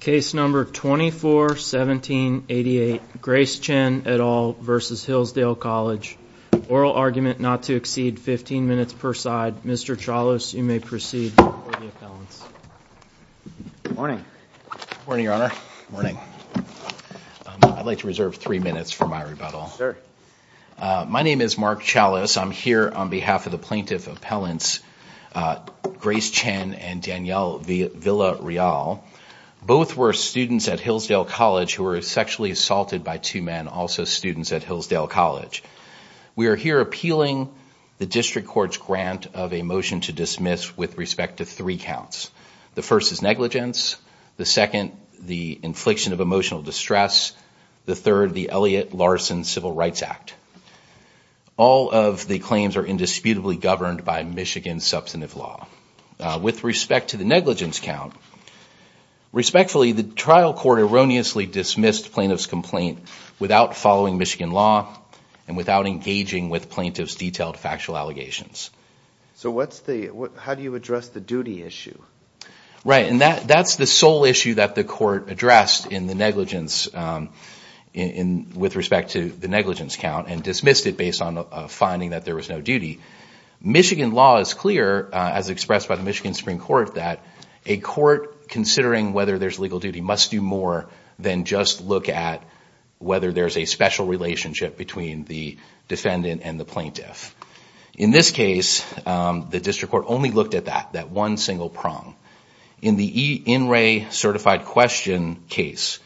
Case number 241788, Grace Chen et al. v. Hillsdale College. Oral argument not to exceed 15 minutes per side. Mr. Chalas, you may proceed for the appellants. Good morning. Good morning, Your Honor. Good morning. I'd like to reserve three minutes for my rebuttal. My name is Mark Chalas. I'm here on behalf of the plaintiff appellants, Grace Chen and Danielle Villarreal. Both were students at Hillsdale College who were sexually assaulted by two men, also students at Hillsdale College. We are here appealing the district court's grant of a motion to dismiss with respect to three counts. The first is negligence. The second, the infliction of emotional distress. The third, the Elliott-Larsen Civil Rights Act. All of the claims are indisputably governed by Michigan substantive law. With respect to the negligence count, respectfully, the trial court erroneously dismissed plaintiff's complaint without following Michigan law and without engaging with plaintiff's detailed factual allegations. So how do you address the duty issue? Right. And that's the sole issue that the court addressed in the negligence with respect to the negligence count and dismissed it based on a finding that there was no duty. Michigan law is clear, as expressed by the Michigan Supreme Court, that a court considering whether there's legal duty must do more than just look at whether there's a special relationship between the defendant and the plaintiff. In this case, the district court only looked at that, that one single prong. In the E. Inray Certified Question case,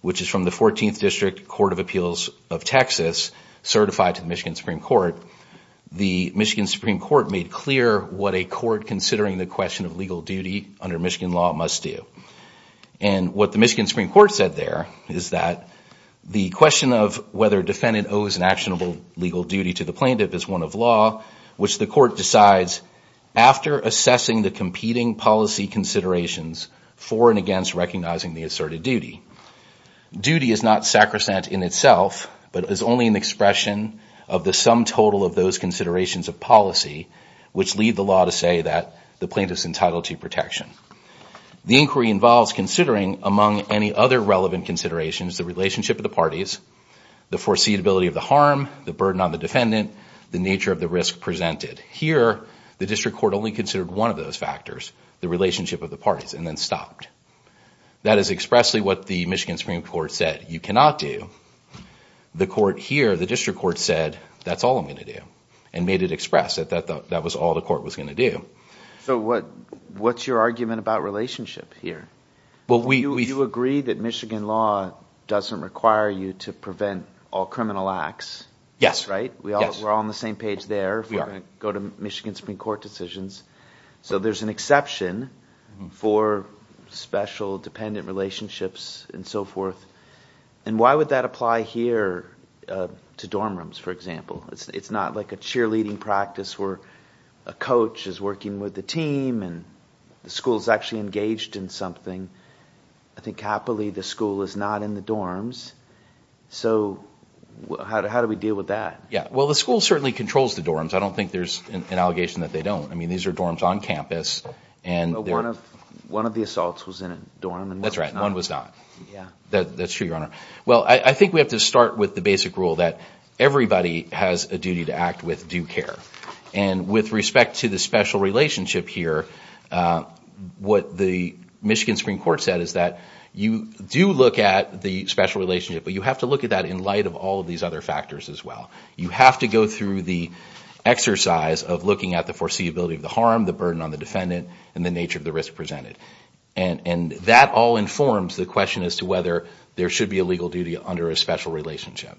which is from the 14th District Court of Appeals of Texas, certified to the Michigan Supreme Court, the Michigan Supreme Court made clear what a court considering the question of legal duty under Michigan law must do. And what the Michigan Supreme Court said there is that the question of whether a defendant owes an actionable legal duty to the plaintiff is one of law, which the court decides after assessing the competing policy considerations for and against recognizing the asserted duty. Duty is not sacrosanct in itself, but is only an expression of the sum total of those considerations of policy, which lead the law to say that the plaintiff's entitled to protection. The inquiry involves considering, among any other relevant considerations, the relationship of the parties, the foreseeability of the harm, the burden on the defendant, the nature of the risk presented. Here, the district court only considered one of those factors, the relationship of the parties, and then stopped. That is expressly what the Michigan Supreme Court said, you cannot do. The court here, the district court said, that's all I'm going to do, and made it express that that was all the court was going to do. So what's your argument about relationship here? You agree that Michigan law doesn't require you to prevent all criminal acts, right? We're all on the same page there if we're going to go to Michigan Supreme Court decisions. So there's an exception for special dependent relationships and so forth. And why would that apply here to dorm rooms, for example? It's not like a cheerleading practice where a coach is working with the team and the school is actually engaged in something. I think happily the school is not in the dorms. So how do we deal with that? Well, the school certainly controls the dorms. I don't think there's an allegation that they don't. I mean, these are dorms on campus. One of the assaults was in a dorm. That's right. One was not. That's true, Your Honor. Well, I think we have to start with the basic rule that everybody has a duty to act with due care. And with respect to the special relationship here, what the Michigan Supreme Court said is that you do look at the special relationship, but you have to look at that in light of all of these other factors as well. You have to go through the exercise of looking at the foreseeability of the harm, the burden on the defendant, and the nature of the risk presented. And that all informs the question as to whether there should be a legal duty under a special relationship.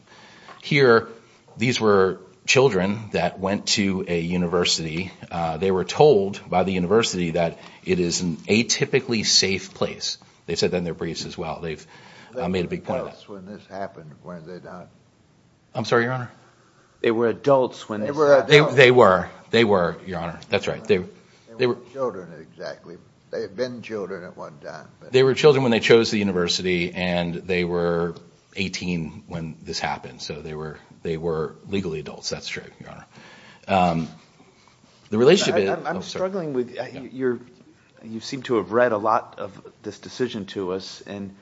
Here, these were children that went to a university. They were told by the university that it is an atypically safe place. They said that in their briefs as well. They've made a big point of that. They were adults when this happened, weren't they, Don? I'm sorry, Your Honor? They were adults when this happened. They were. They were, Your Honor. That's right. They were children exactly. They had been children at one time. They were children when they chose the university, and they were 18 when this happened. So they were legally adults. That's true, Your Honor. The relationship is— I'm struggling with—you seem to have read a lot of this decision to us, and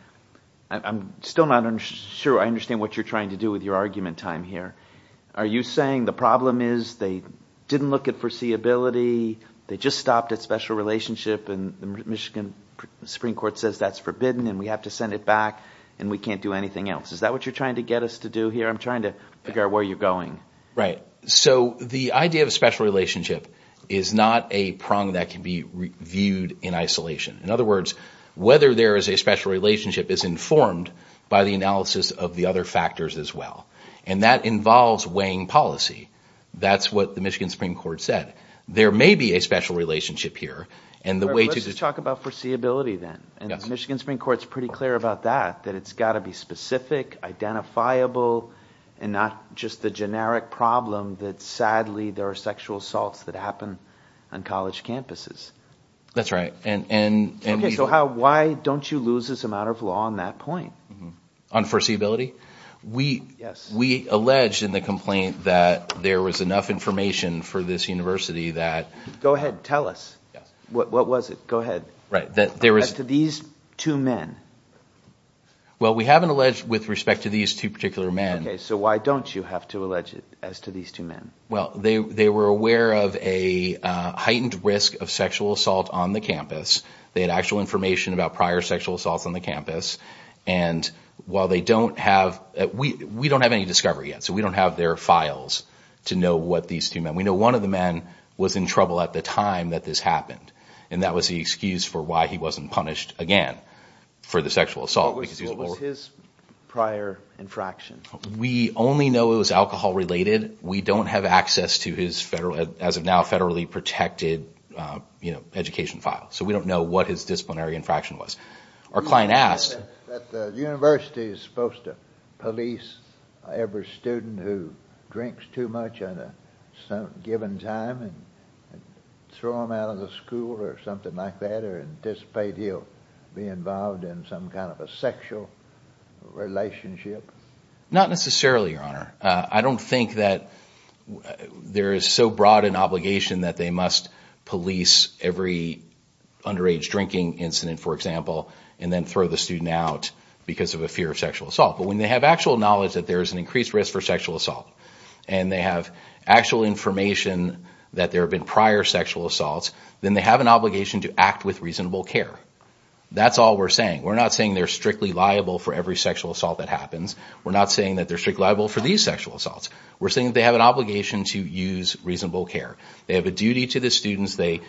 I'm still not sure I understand what you're trying to do with your argument time here. Are you saying the problem is they didn't look at foreseeability, they just stopped at special relationship, and the Michigan Supreme Court says that's forbidden and we have to send it back and we can't do anything else? Is that what you're trying to get us to do here? I'm trying to figure out where you're going. Right. So the idea of a special relationship is not a prong that can be viewed in isolation. In other words, whether there is a special relationship is informed by the analysis of the other factors as well. And that involves weighing policy. That's what the Michigan Supreme Court said. There may be a special relationship here, and the way to— Let's talk about foreseeability then. The Michigan Supreme Court is pretty clear about that, that it's got to be specific, identifiable, and not just the generic problem that sadly there are sexual assaults that happen on college campuses. That's right. Okay, so why don't you lose this amount of law on that point? On foreseeability? Yes. We allege in the complaint that there was enough information for this university that— Go ahead. Tell us. Yes. What was it? Go ahead. Right. As to these two men. Well, we haven't alleged with respect to these two particular men. Okay, so why don't you have to allege it as to these two men? Well, they were aware of a heightened risk of sexual assault on the campus. They had actual information about prior sexual assaults on the campus. And while they don't have—we don't have any discovery yet, so we don't have their files to know what these two men— we know one of the men was in trouble at the time that this happened, and that was the excuse for why he wasn't punished again for the sexual assault. What was his prior infraction? We only know it was alcohol-related. We don't have access to his, as of now, federally protected education file, so we don't know what his disciplinary infraction was. Our client asked— Is it that the university is supposed to police every student who drinks too much at a given time and throw them out of the school or something like that or anticipate he'll be involved in some kind of a sexual relationship? Not necessarily, Your Honor. I don't think that there is so broad an obligation that they must police every underage drinking incident, for example, and then throw the student out because of a fear of sexual assault. But when they have actual knowledge that there is an increased risk for sexual assault and they have actual information that there have been prior sexual assaults, then they have an obligation to act with reasonable care. That's all we're saying. We're not saying they're strictly liable for every sexual assault that happens. We're not saying that they're strictly liable for these sexual assaults. We're saying that they have an obligation to use reasonable care. They have a duty to the students. They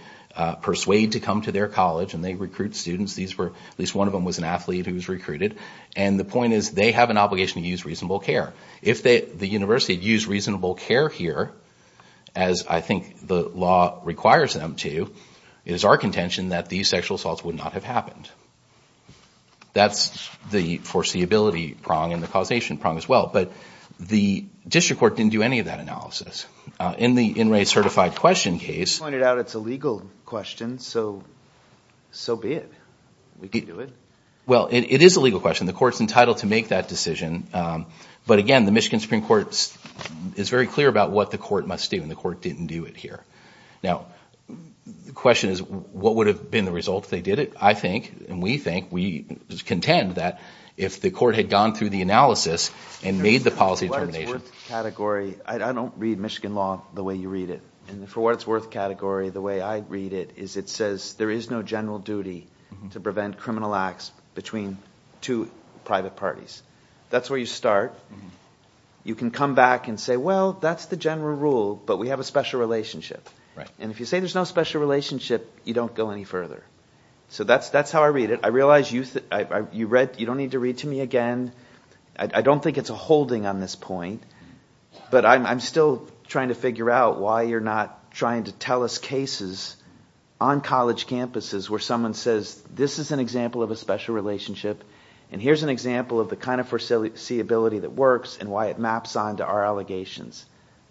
persuade to come to their college and they recruit students. At least one of them was an athlete who was recruited. And the point is they have an obligation to use reasonable care. If the university had used reasonable care here, as I think the law requires them to, it is our contention that these sexual assaults would not have happened. That's the foreseeability prong and the causation prong as well. But the district court didn't do any of that analysis. In the in-rate certified question case. You pointed out it's a legal question, so be it. We can do it. Well, it is a legal question. The court's entitled to make that decision. But, again, the Michigan Supreme Court is very clear about what the court must do, and the court didn't do it here. Now, the question is what would have been the result if they did it? I think and we think, we contend that if the court had gone through the analysis and made the policy determination. For what it's worth category, I don't read Michigan law the way you read it. And for what it's worth category, the way I read it is it says there is no general duty to prevent criminal acts between two private parties. That's where you start. You can come back and say, well, that's the general rule, but we have a special relationship. And if you say there's no special relationship, you don't go any further. So that's how I read it. I realize you don't need to read to me again. I don't think it's a holding on this point. But I'm still trying to figure out why you're not trying to tell us cases on college campuses where someone says this is an example of a special relationship, and here's an example of the kind of foreseeability that works and why it maps on to our allegations.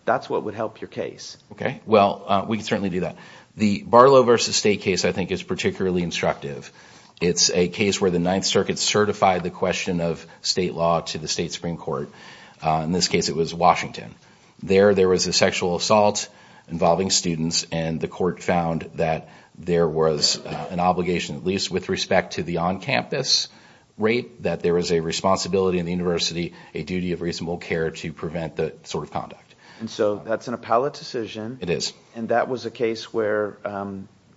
That's what would help your case. Well, we can certainly do that. The Barlow v. State case, I think, is particularly instructive. It's a case where the Ninth Circuit certified the question of state law to the state Supreme Court. In this case, it was Washington. There, there was a sexual assault involving students, and the court found that there was an obligation, at least with respect to the on-campus rape, that there was a responsibility in the university, a duty of reasonable care to prevent that sort of conduct. And so that's an appellate decision. It is. And that was a case where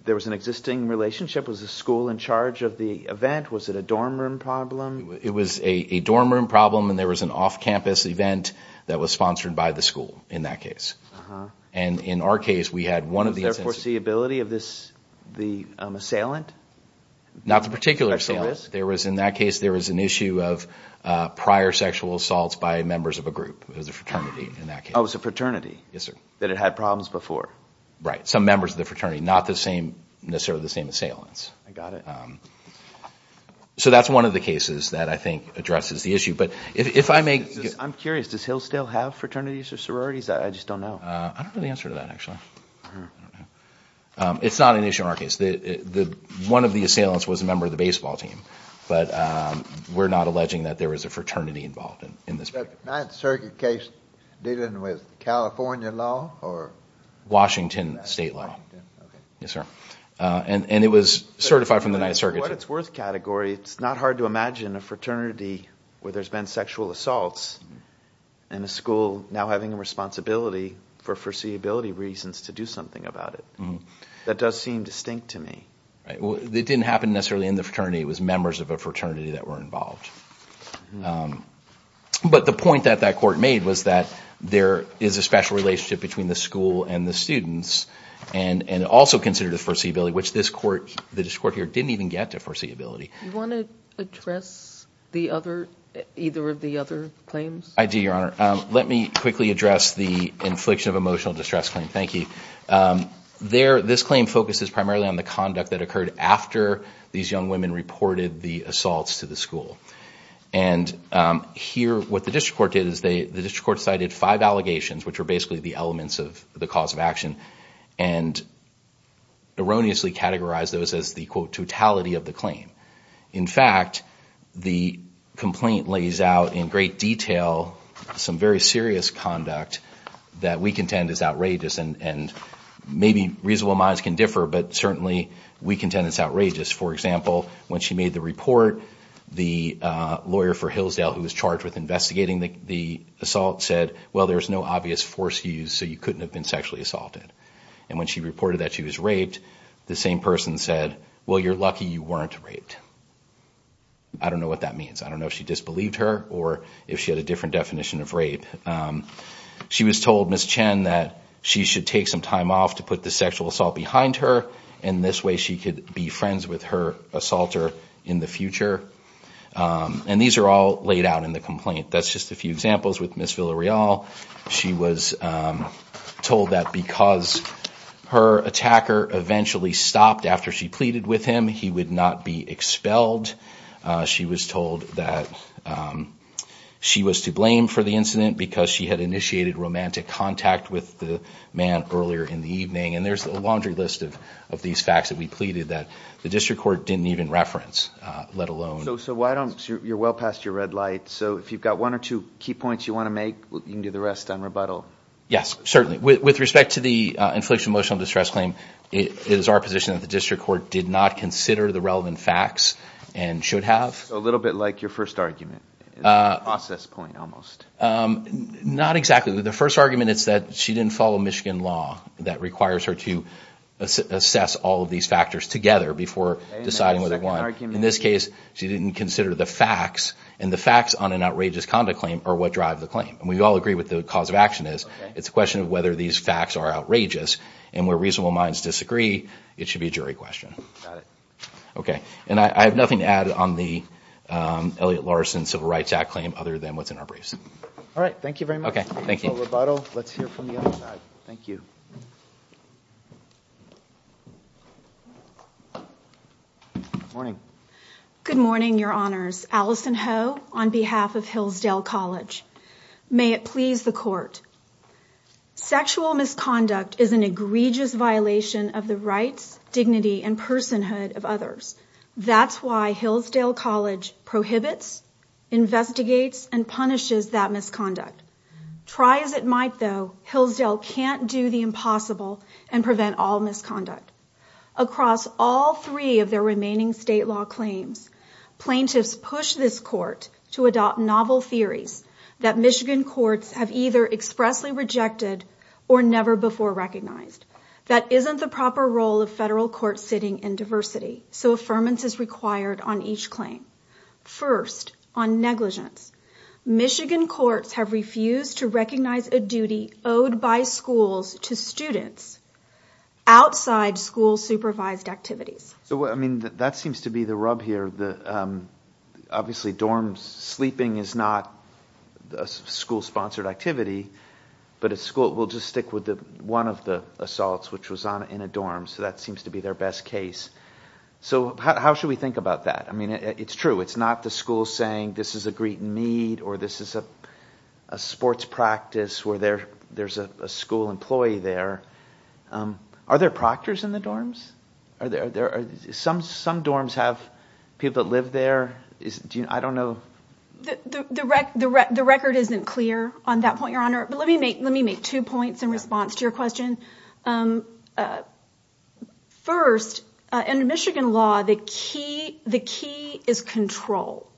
there was an existing relationship? Was the school in charge of the event? Was it a dorm room problem? It was a dorm room problem, and there was an off-campus event that was sponsored by the school in that case. And in our case, we had one of the— Was there foreseeability of the assailant? Not the particular assailant. There was, in that case, there was an issue of prior sexual assaults by members of a group. It was a fraternity in that case. Oh, it was a fraternity. Yes, sir. That had had problems before. Right. Some members of the fraternity, not necessarily the same assailants. I got it. So that's one of the cases that I think addresses the issue. But if I may— I'm curious. Does Hillsdale have fraternities or sororities? I just don't know. I don't know the answer to that, actually. It's not an issue in our case. One of the assailants was a member of the baseball team, but we're not alleging that there was a fraternity involved in this case. Was the Ninth Circuit case dealing with California law or— Washington state law. Okay. Yes, sir. And it was certified from the Ninth Circuit. In what it's worth category, it's not hard to imagine a fraternity where there's been sexual assaults and a school now having a responsibility for foreseeability reasons to do something about it. That does seem distinct to me. Right. It didn't happen necessarily in the fraternity. It was members of a fraternity that were involved. But the point that that court made was that there is a special relationship between the school and the students and also consider the foreseeability, which this court here didn't even get to foreseeability. Do you want to address either of the other claims? I do, Your Honor. Let me quickly address the infliction of emotional distress claim. Thank you. This claim focuses primarily on the conduct that occurred after these young women reported the assaults to the school. And here what the district court did is the district court cited five allegations, which are basically the elements of the cause of action, and erroneously categorized those as the, quote, totality of the claim. In fact, the complaint lays out in great detail some very serious conduct that we contend is outrageous. And maybe reasonable minds can differ, but certainly we contend it's outrageous. For example, when she made the report, the lawyer for Hillsdale who was charged with investigating the assault said, well, there's no obvious force used, so you couldn't have been sexually assaulted. And when she reported that she was raped, the same person said, well, you're lucky you weren't raped. I don't know what that means. I don't know if she disbelieved her or if she had a different definition of rape. She was told, Ms. Chen, that she should take some time off to put the sexual assault behind her, and this way she could be friends with her assaulter in the future. And these are all laid out in the complaint. That's just a few examples with Ms. Villarreal. She was told that because her attacker eventually stopped after she pleaded with him, he would not be expelled. She was told that she was to blame for the incident because she had initiated romantic contact with the man earlier in the evening. And there's a laundry list of these facts that we pleaded that the district court didn't even reference, let alone. So you're well past your red light. So if you've got one or two key points you want to make, you can do the rest on rebuttal. Yes, certainly. With respect to the inflicted emotional distress claim, it is our position that the district court did not consider the relevant facts and should have. So a little bit like your first argument, a process point almost. Not exactly. The first argument is that she didn't follow Michigan law that requires her to assess all of these factors together before deciding whether or not. In this case, she didn't consider the facts, and the facts on an outrageous conduct claim are what drive the claim. And we all agree what the cause of action is. It's a question of whether these facts are outrageous, and where reasonable minds disagree, it should be a jury question. Got it. Okay. And I have nothing to add on the Elliott-Larsen Civil Rights Act claim other than what's in our briefs. All right. Thank you very much. That's all rebuttal. Let's hear from the other side. Thank you. Good morning. Good morning, Your Honors. Allison Ho on behalf of Hillsdale College. May it please the Court. Sexual misconduct is an egregious violation of the rights, dignity, and personhood of others. That's why Hillsdale College prohibits, investigates, and punishes that misconduct. Try as it might, though, Hillsdale can't do the impossible and prevent all misconduct. Across all three of their remaining state law claims, plaintiffs push this Court to adopt novel theories that Michigan courts have either expressly rejected or never before recognized. That isn't the proper role of federal courts sitting in diversity, so affirmance is required on each claim. First, on negligence, Michigan courts have refused to recognize a duty owed by schools to students outside school-supervised activities. So, I mean, that seems to be the rub here. Obviously dorm sleeping is not a school-sponsored activity, but a school will just stick with one of the assaults, which was in a dorm, so that seems to be their best case. So how should we think about that? I mean, it's true. It's not the school saying this is a greet-and-meet or this is a sports practice where there's a school employee there. Are there proctors in the dorms? Some dorms have people that live there. I don't know. The record isn't clear on that point, Your Honor, but let me make two points in response to your question. First, under Michigan law, the key is control,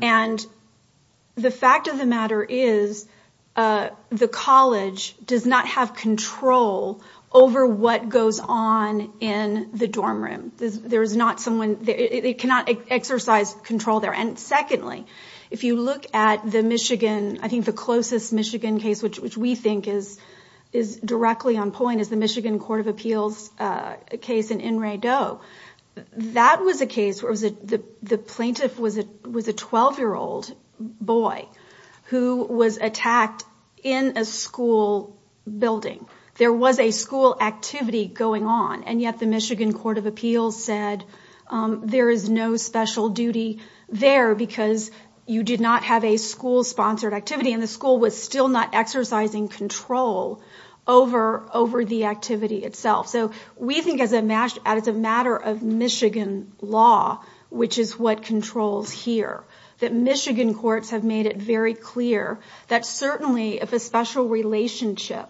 and the fact of the matter is the college does not have control over what goes on in the dorm room. There is not someone there. It cannot exercise control there. And secondly, if you look at the Michigan, I think the closest Michigan case, which we think is directly on point, is the Michigan Court of Appeals case in In-Re-Do. That was a case where the plaintiff was a 12-year-old boy who was attacked in a school building. There was a school activity going on, and yet the Michigan Court of Appeals said there is no special duty there. Because you did not have a school-sponsored activity, and the school was still not exercising control over the activity itself. So we think as a matter of Michigan law, which is what controls here, that Michigan courts have made it very clear that certainly if a special relationship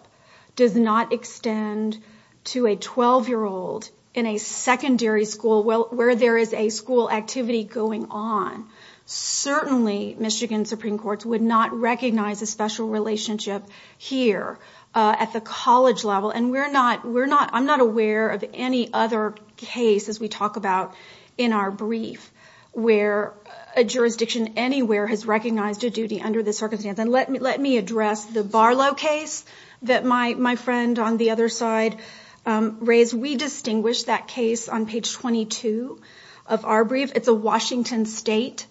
does not extend to a 12-year-old in a secondary school where there is a school activity going on, certainly Michigan Supreme Courts would not recognize a special relationship here at the college level. And I'm not aware of any other case, as we talk about in our brief, where a jurisdiction anywhere has recognized a duty under this circumstance. And let me address the Barlow case that my friend on the other side raised. We distinguish that case on page 22 of our brief. It's a Washington State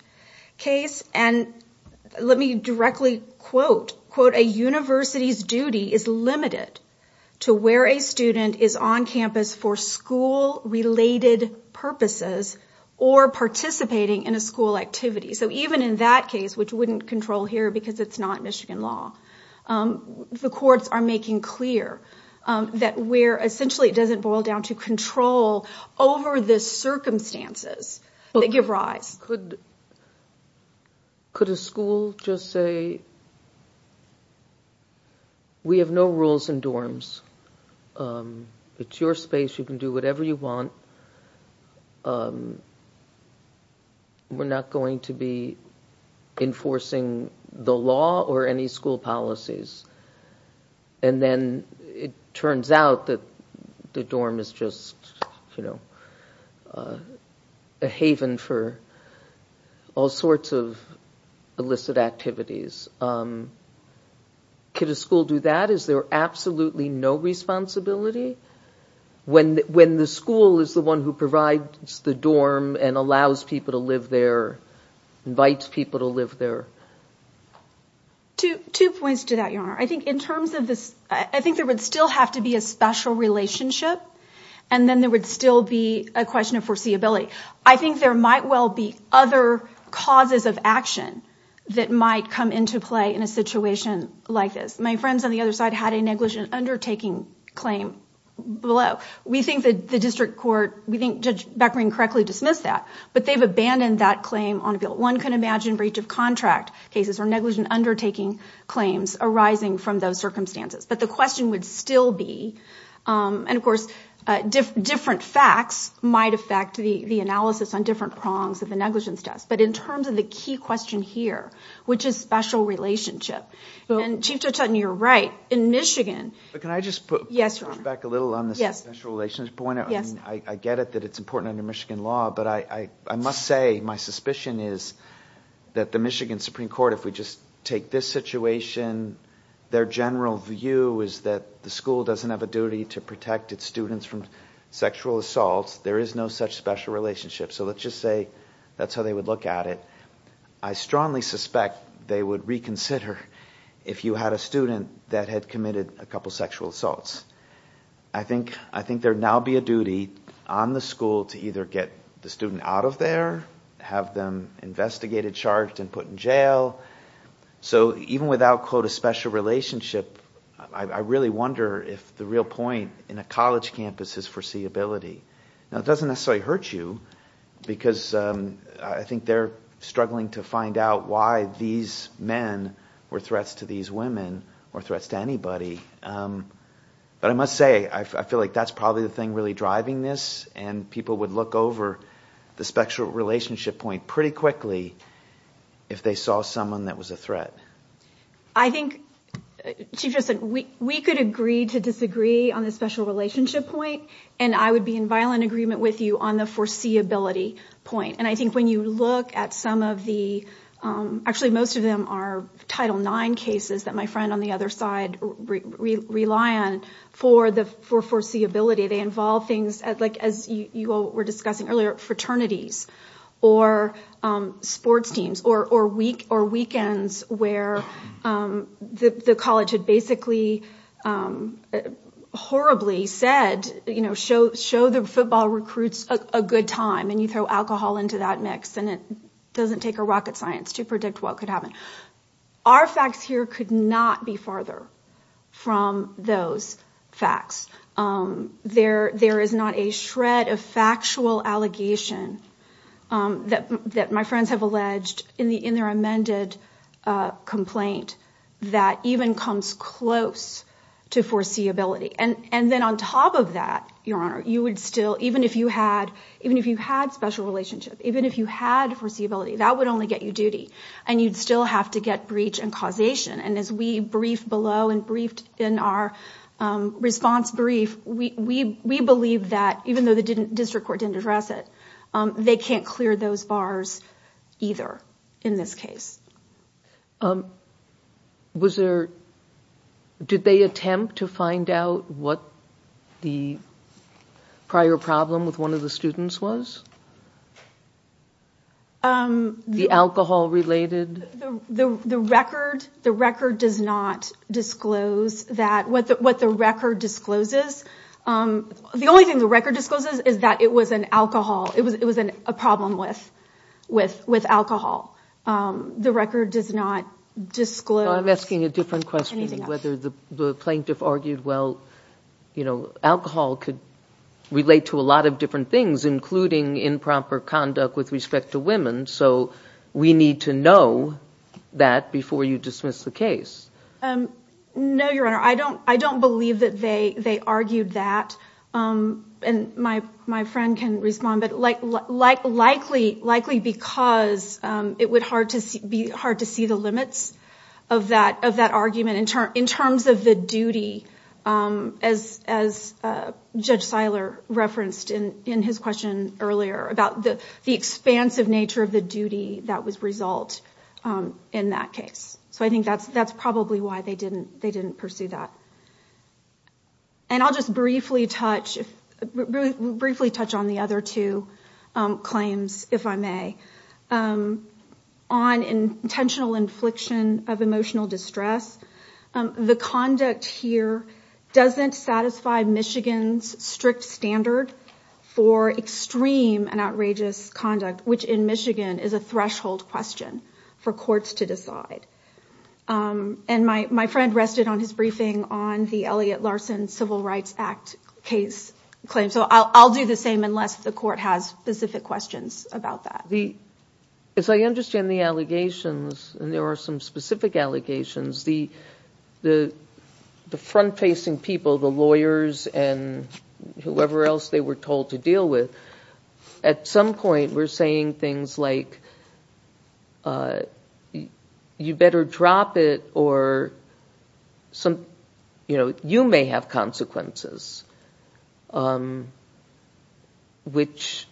case. And let me directly quote, quote, a university's duty is limited to where a student is on campus for school-related purposes or participating in a school activity. So even in that case, which wouldn't control here because it's not Michigan law, the courts are making clear that essentially it doesn't boil down to control over the circumstances that give rise. Could a school just say, we have no rules in dorms, it's your space, you can do whatever you want, we're not going to be enforcing the law or any school policies. And then it turns out that the dorm is just, you know, a haven for all sorts of illicit activities. Could a school do that? Is there absolutely no responsibility? When the school is the one who provides the dorm and allows people to live there, invites people to live there? Two points to that, Your Honor. I think in terms of this, I think there would still have to be a special relationship. And then there would still be a question of foreseeability. I think there might well be other causes of action that might come into play in a situation like this. My friends on the other side had a negligent undertaking claim below. We think that the district court, we think Judge Beckering correctly dismissed that. But they've abandoned that claim on a bill. But one can imagine breach of contract cases or negligent undertaking claims arising from those circumstances. But the question would still be, and of course, different facts might affect the analysis on different prongs of the negligence test. But in terms of the key question here, which is special relationship. And Chief Judge Hutton, you're right, in Michigan. But can I just push back a little on the special relationship point? I get it that it's important under Michigan law. But I must say my suspicion is that the Michigan Supreme Court, if we just take this situation, their general view is that the school doesn't have a duty to protect its students from sexual assaults. There is no such special relationship. So let's just say that's how they would look at it. I strongly suspect they would reconsider if you had a student that had committed a couple sexual assaults. I think there would now be a duty on the school to either get the student out of there, have them investigated, charged, and put in jail. So even without, quote, a special relationship, I really wonder if the real point in a college campus is foreseeability. Now, it doesn't necessarily hurt you because I think they're struggling to find out why these men were threats to these women or threats to anybody. But I must say I feel like that's probably the thing really driving this, and people would look over the special relationship point pretty quickly if they saw someone that was a threat. I think, Chief Justin, we could agree to disagree on the special relationship point, and I would be in violent agreement with you on the foreseeability point. And I think when you look at some of the—actually, most of them are Title IX cases that my friend on the other side rely on for foreseeability. They involve things like, as you were discussing earlier, fraternities or sports teams or weekends where the college had basically horribly said, you know, show the football recruits a good time, and you throw alcohol into that mix, and it doesn't take a rocket science to predict what could happen. Our facts here could not be farther from those facts. There is not a shred of factual allegation that my friends have alleged in their amended complaint that even comes close to foreseeability. And then on top of that, Your Honor, you would still, even if you had special relationship, even if you had foreseeability, that would only get you duty, and you'd still have to get breach and causation. And as we briefed below and briefed in our response brief, we believe that even though the district court didn't address it, they can't clear those bars either in this case. Was there, did they attempt to find out what the prior problem with one of the students was? The alcohol-related? The record does not disclose that. What the record discloses, the only thing the record discloses is that it was an alcohol, it was a problem with alcohol. The record does not disclose anything else. I'm asking a different question, whether the plaintiff argued, well, you know, alcohol could relate to a lot of different things, including improper conduct with respect to women, so we need to know that before you dismiss the case. No, Your Honor, I don't believe that they argued that. And my friend can respond, but likely because it would be hard to see the limits of that argument in terms of the duty, as Judge Seiler referenced in his question earlier about the expansive nature of the duty that would result in that case. So I think that's probably why they didn't pursue that. And I'll just briefly touch on the other two claims, if I may. On intentional infliction of emotional distress, the conduct here doesn't satisfy Michigan's strict standard for extreme and outrageous conduct, which in Michigan is a threshold question for courts to decide. And my friend rested on his briefing on the Elliott-Larson Civil Rights Act case claim, so I'll do the same unless the court has specific questions about that. As I understand the allegations, and there are some specific allegations, the front-facing people, the lawyers and whoever else they were told to deal with, at some point were saying things like, you better drop it or you may have consequences, which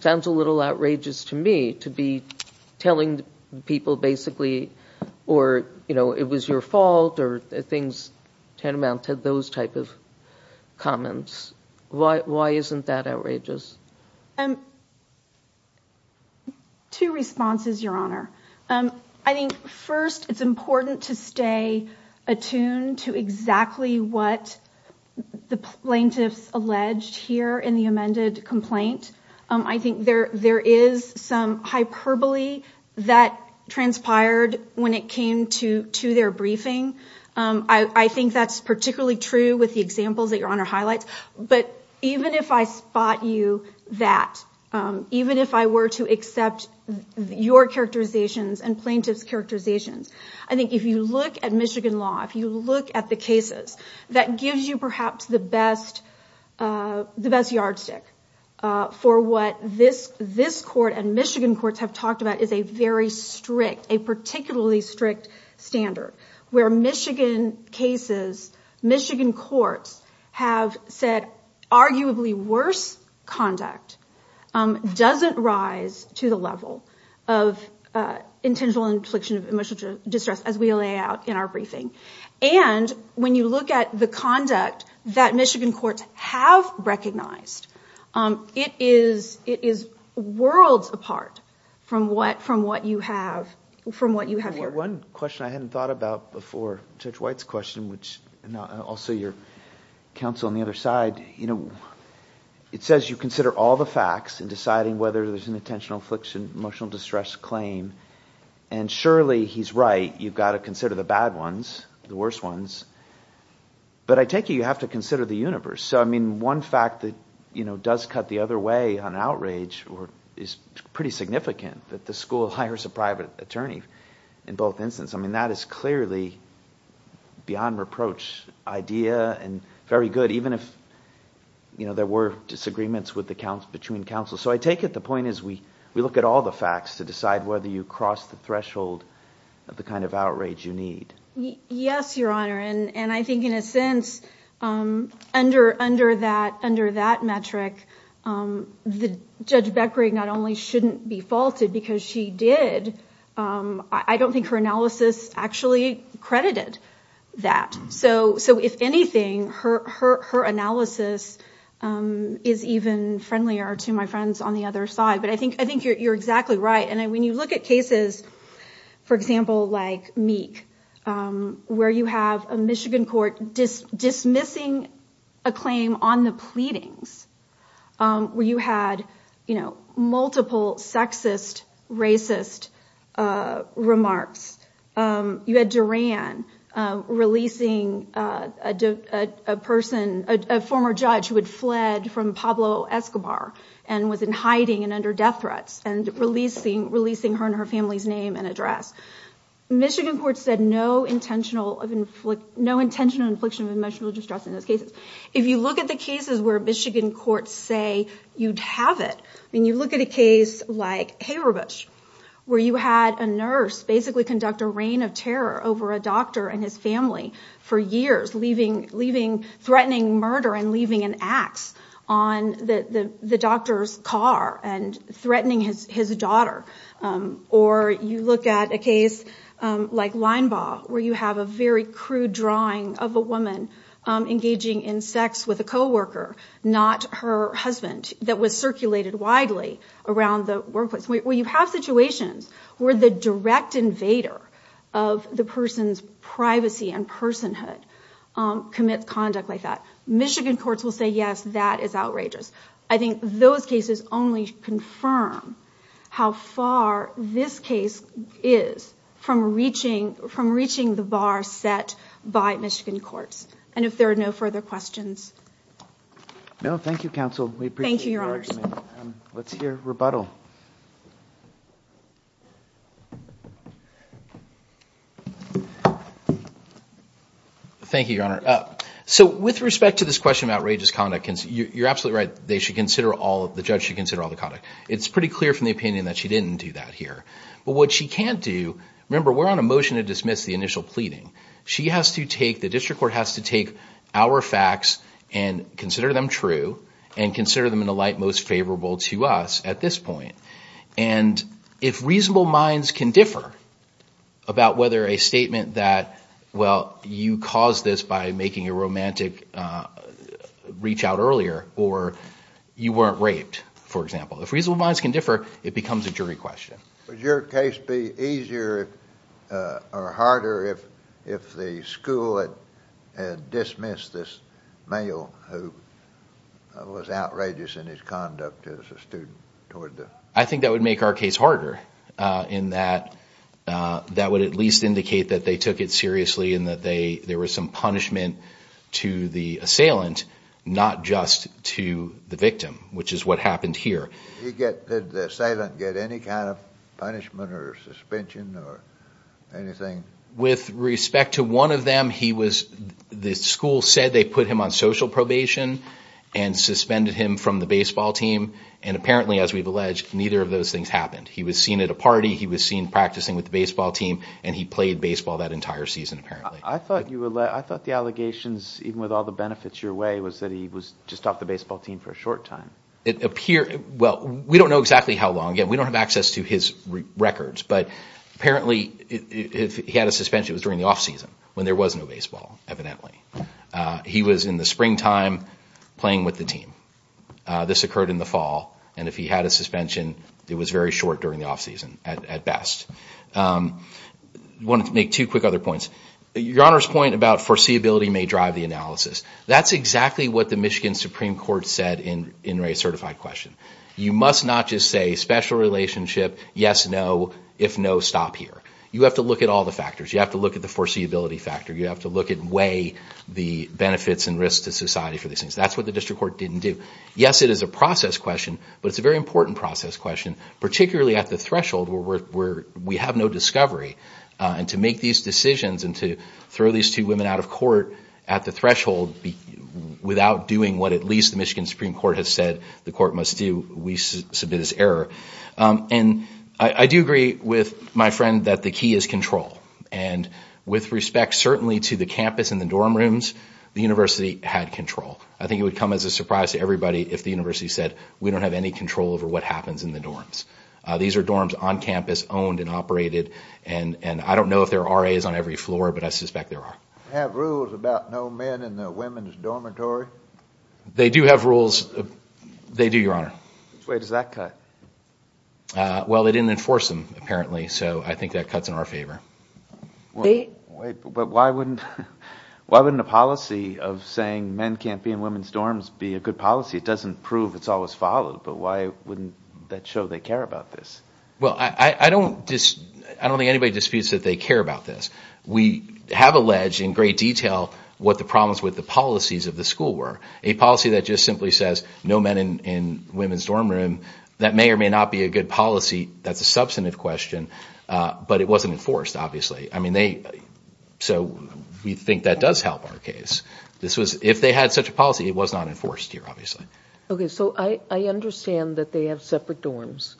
sounds a little outrageous to me to be telling people basically, or it was your fault or things tantamount to those type of comments. Why isn't that outrageous? Two responses, Your Honor. I think, first, it's important to stay attuned to exactly what the plaintiffs alleged here in the amended complaint. I think there is some hyperbole that transpired when it came to their briefing. I think that's particularly true with the examples that Your Honor highlights. But even if I spot you that, even if I were to accept your characterizations and plaintiffs' characterizations, I think if you look at Michigan law, if you look at the cases, that gives you perhaps the best yardstick for what this court and Michigan courts have talked about is a very strict, a particularly strict standard where Michigan cases, Michigan courts have said arguably worse conduct doesn't rise to the level of intentional infliction of emotional distress, as we lay out in our briefing. And when you look at the conduct that Michigan courts have recognized, it is worlds apart from what you have here. One question I hadn't thought about before, Judge White's question, which also your counsel on the other side, it says you consider all the facts in deciding whether there's an intentional infliction of emotional distress claim, and surely he's right, you've got to consider the bad ones, the worst ones. But I take it you have to consider the universe. So, I mean, one fact that does cut the other way on outrage is pretty significant, that the school hires a private attorney in both instances. I mean, that is clearly beyond reproach idea and very good, even if there were disagreements between counsels. So I take it the point is we look at all the facts to decide whether you cross the threshold of the kind of outrage you need. Yes, Your Honor, and I think in a sense, under that metric, Judge Beckering not only shouldn't be faulted because she did, I don't think her analysis actually credited that. So if anything, her analysis is even friendlier to my friends on the other side. But I think I think you're exactly right. And when you look at cases, for example, like Meek, where you have a Michigan court dismissing a claim on the pleadings, where you had, you know, multiple sexist, racist remarks. You had Duran releasing a person, a former judge who had fled from Pablo Escobar and was in hiding and under death threats, and releasing releasing her and her family's name and address. Michigan court said no intentional, no intentional infliction of emotional distress in those cases. If you look at the cases where Michigan courts say you'd have it, I mean, you look at a case like Haberbusch, where you had a nurse basically conduct a reign of terror over a doctor and his family for years, leaving leaving threatening murder and leaving an ax on the doctor's car and threatening his daughter. Or you look at a case like Linebaugh, where you have a very crude drawing of a woman engaging in sex with a co-worker, not her husband, that was circulated widely around the workplace. We have situations where the direct invader of the person's privacy and personhood commits conduct like that. Michigan courts will say, yes, that is outrageous. I think those cases only confirm how far this case is from reaching from reaching the bar set by Michigan courts. And if there are no further questions. No, thank you, counsel. Thank you. Let's hear rebuttal. Thank you, Your Honor. So with respect to this question, outrageous conduct, you're absolutely right. They should consider all of the judge should consider all the conduct. It's pretty clear from the opinion that she didn't do that here. But what she can't do. Remember, we're on a motion to dismiss the initial pleading. She has to take the district court has to take our facts and consider them true and consider them in the light most favorable to us at this point. And if reasonable minds can differ about whether a statement that, well, you caused this by making a romantic reach out earlier, or you weren't raped, for example, if reasonable minds can differ, it becomes a jury question. Would your case be easier or harder if the school had dismissed this male who was outrageous in his conduct as a student? I think that would make our case harder in that. That would at least indicate that they took it seriously and that they there was some punishment to the assailant, not just to the victim, which is what happened here. Did the assailant get any kind of punishment or suspension or anything? With respect to one of them, the school said they put him on social probation and suspended him from the baseball team. And apparently, as we've alleged, neither of those things happened. He was seen at a party. He was seen practicing with the baseball team. And he played baseball that entire season, apparently. I thought the allegations, even with all the benefits your way, was that he was just off the baseball team for a short time. Well, we don't know exactly how long. Again, we don't have access to his records. But apparently, if he had a suspension, it was during the offseason when there was no baseball, evidently. He was in the springtime playing with the team. This occurred in the fall. And if he had a suspension, it was very short during the offseason at best. I wanted to make two quick other points. Your Honor's point about foreseeability may drive the analysis. That's exactly what the Michigan Supreme Court said in Ray's certified question. You must not just say special relationship, yes, no, if no, stop here. You have to look at all the factors. You have to look at the foreseeability factor. You have to look at way the benefits and risks to society for these things. That's what the district court didn't do. Yes, it is a process question, but it's a very important process question, particularly at the threshold where we have no discovery. And to make these decisions and to throw these two women out of court at the threshold without doing what at least the Michigan Supreme Court has said the court must do, we submit this error. And I do agree with my friend that the key is control. And with respect certainly to the campus and the dorm rooms, the university had control. I think it would come as a surprise to everybody if the university said we don't have any control over what happens in the dorms. These are dorms on campus owned and operated, and I don't know if there are RAs on every floor, but I suspect there are. Do they have rules about no men in the women's dormitory? They do have rules. They do, Your Honor. Which way does that cut? Well, they didn't enforce them apparently, so I think that cuts in our favor. Wait, but why wouldn't a policy of saying men can't be in women's dorms be a good policy? It doesn't prove it's always followed, but why wouldn't that show they care about this? Well, I don't think anybody disputes that they care about this. We have alleged in great detail what the problems with the policies of the school were, a policy that just simply says no men in women's dorm room. That may or may not be a good policy. That's a substantive question, but it wasn't enforced obviously. So we think that does help our case. If they had such a policy, it was not enforced here obviously. Okay, so I understand that they have separate dorms,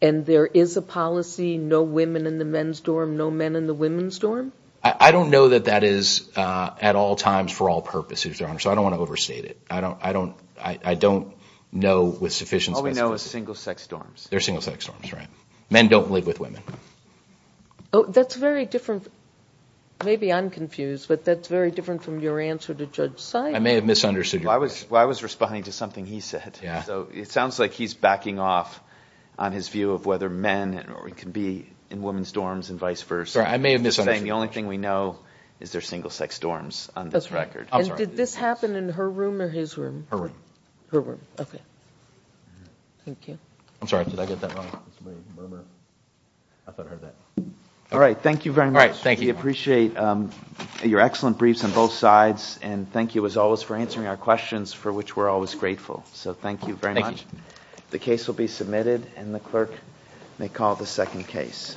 and there is a policy no women in the men's dorm, no men in the women's dorm? I don't know that that is at all times for all purposes, Your Honor, so I don't want to overstate it. I don't know with sufficient specificity. All we know is single-sex dorms. They're single-sex dorms, right? Men don't live with women. Oh, that's very different. Maybe I'm confused, but that's very different from your answer to Judge Seidman. I may have misunderstood you. Well, I was responding to something he said. So it sounds like he's backing off on his view of whether men can be in women's dorms and vice versa. I may have misunderstood you. I'm just saying the only thing we know is they're single-sex dorms on this record. Did this happen in her room or his room? Her room. Her room, okay. Thank you. I'm sorry, did I get that wrong? I thought I heard that. All right. Thank you very much. We appreciate your excellent briefs on both sides, and thank you, as always, for answering our questions, for which we're always grateful. So thank you very much. Thank you. The case will be submitted, and the clerk may call the second case.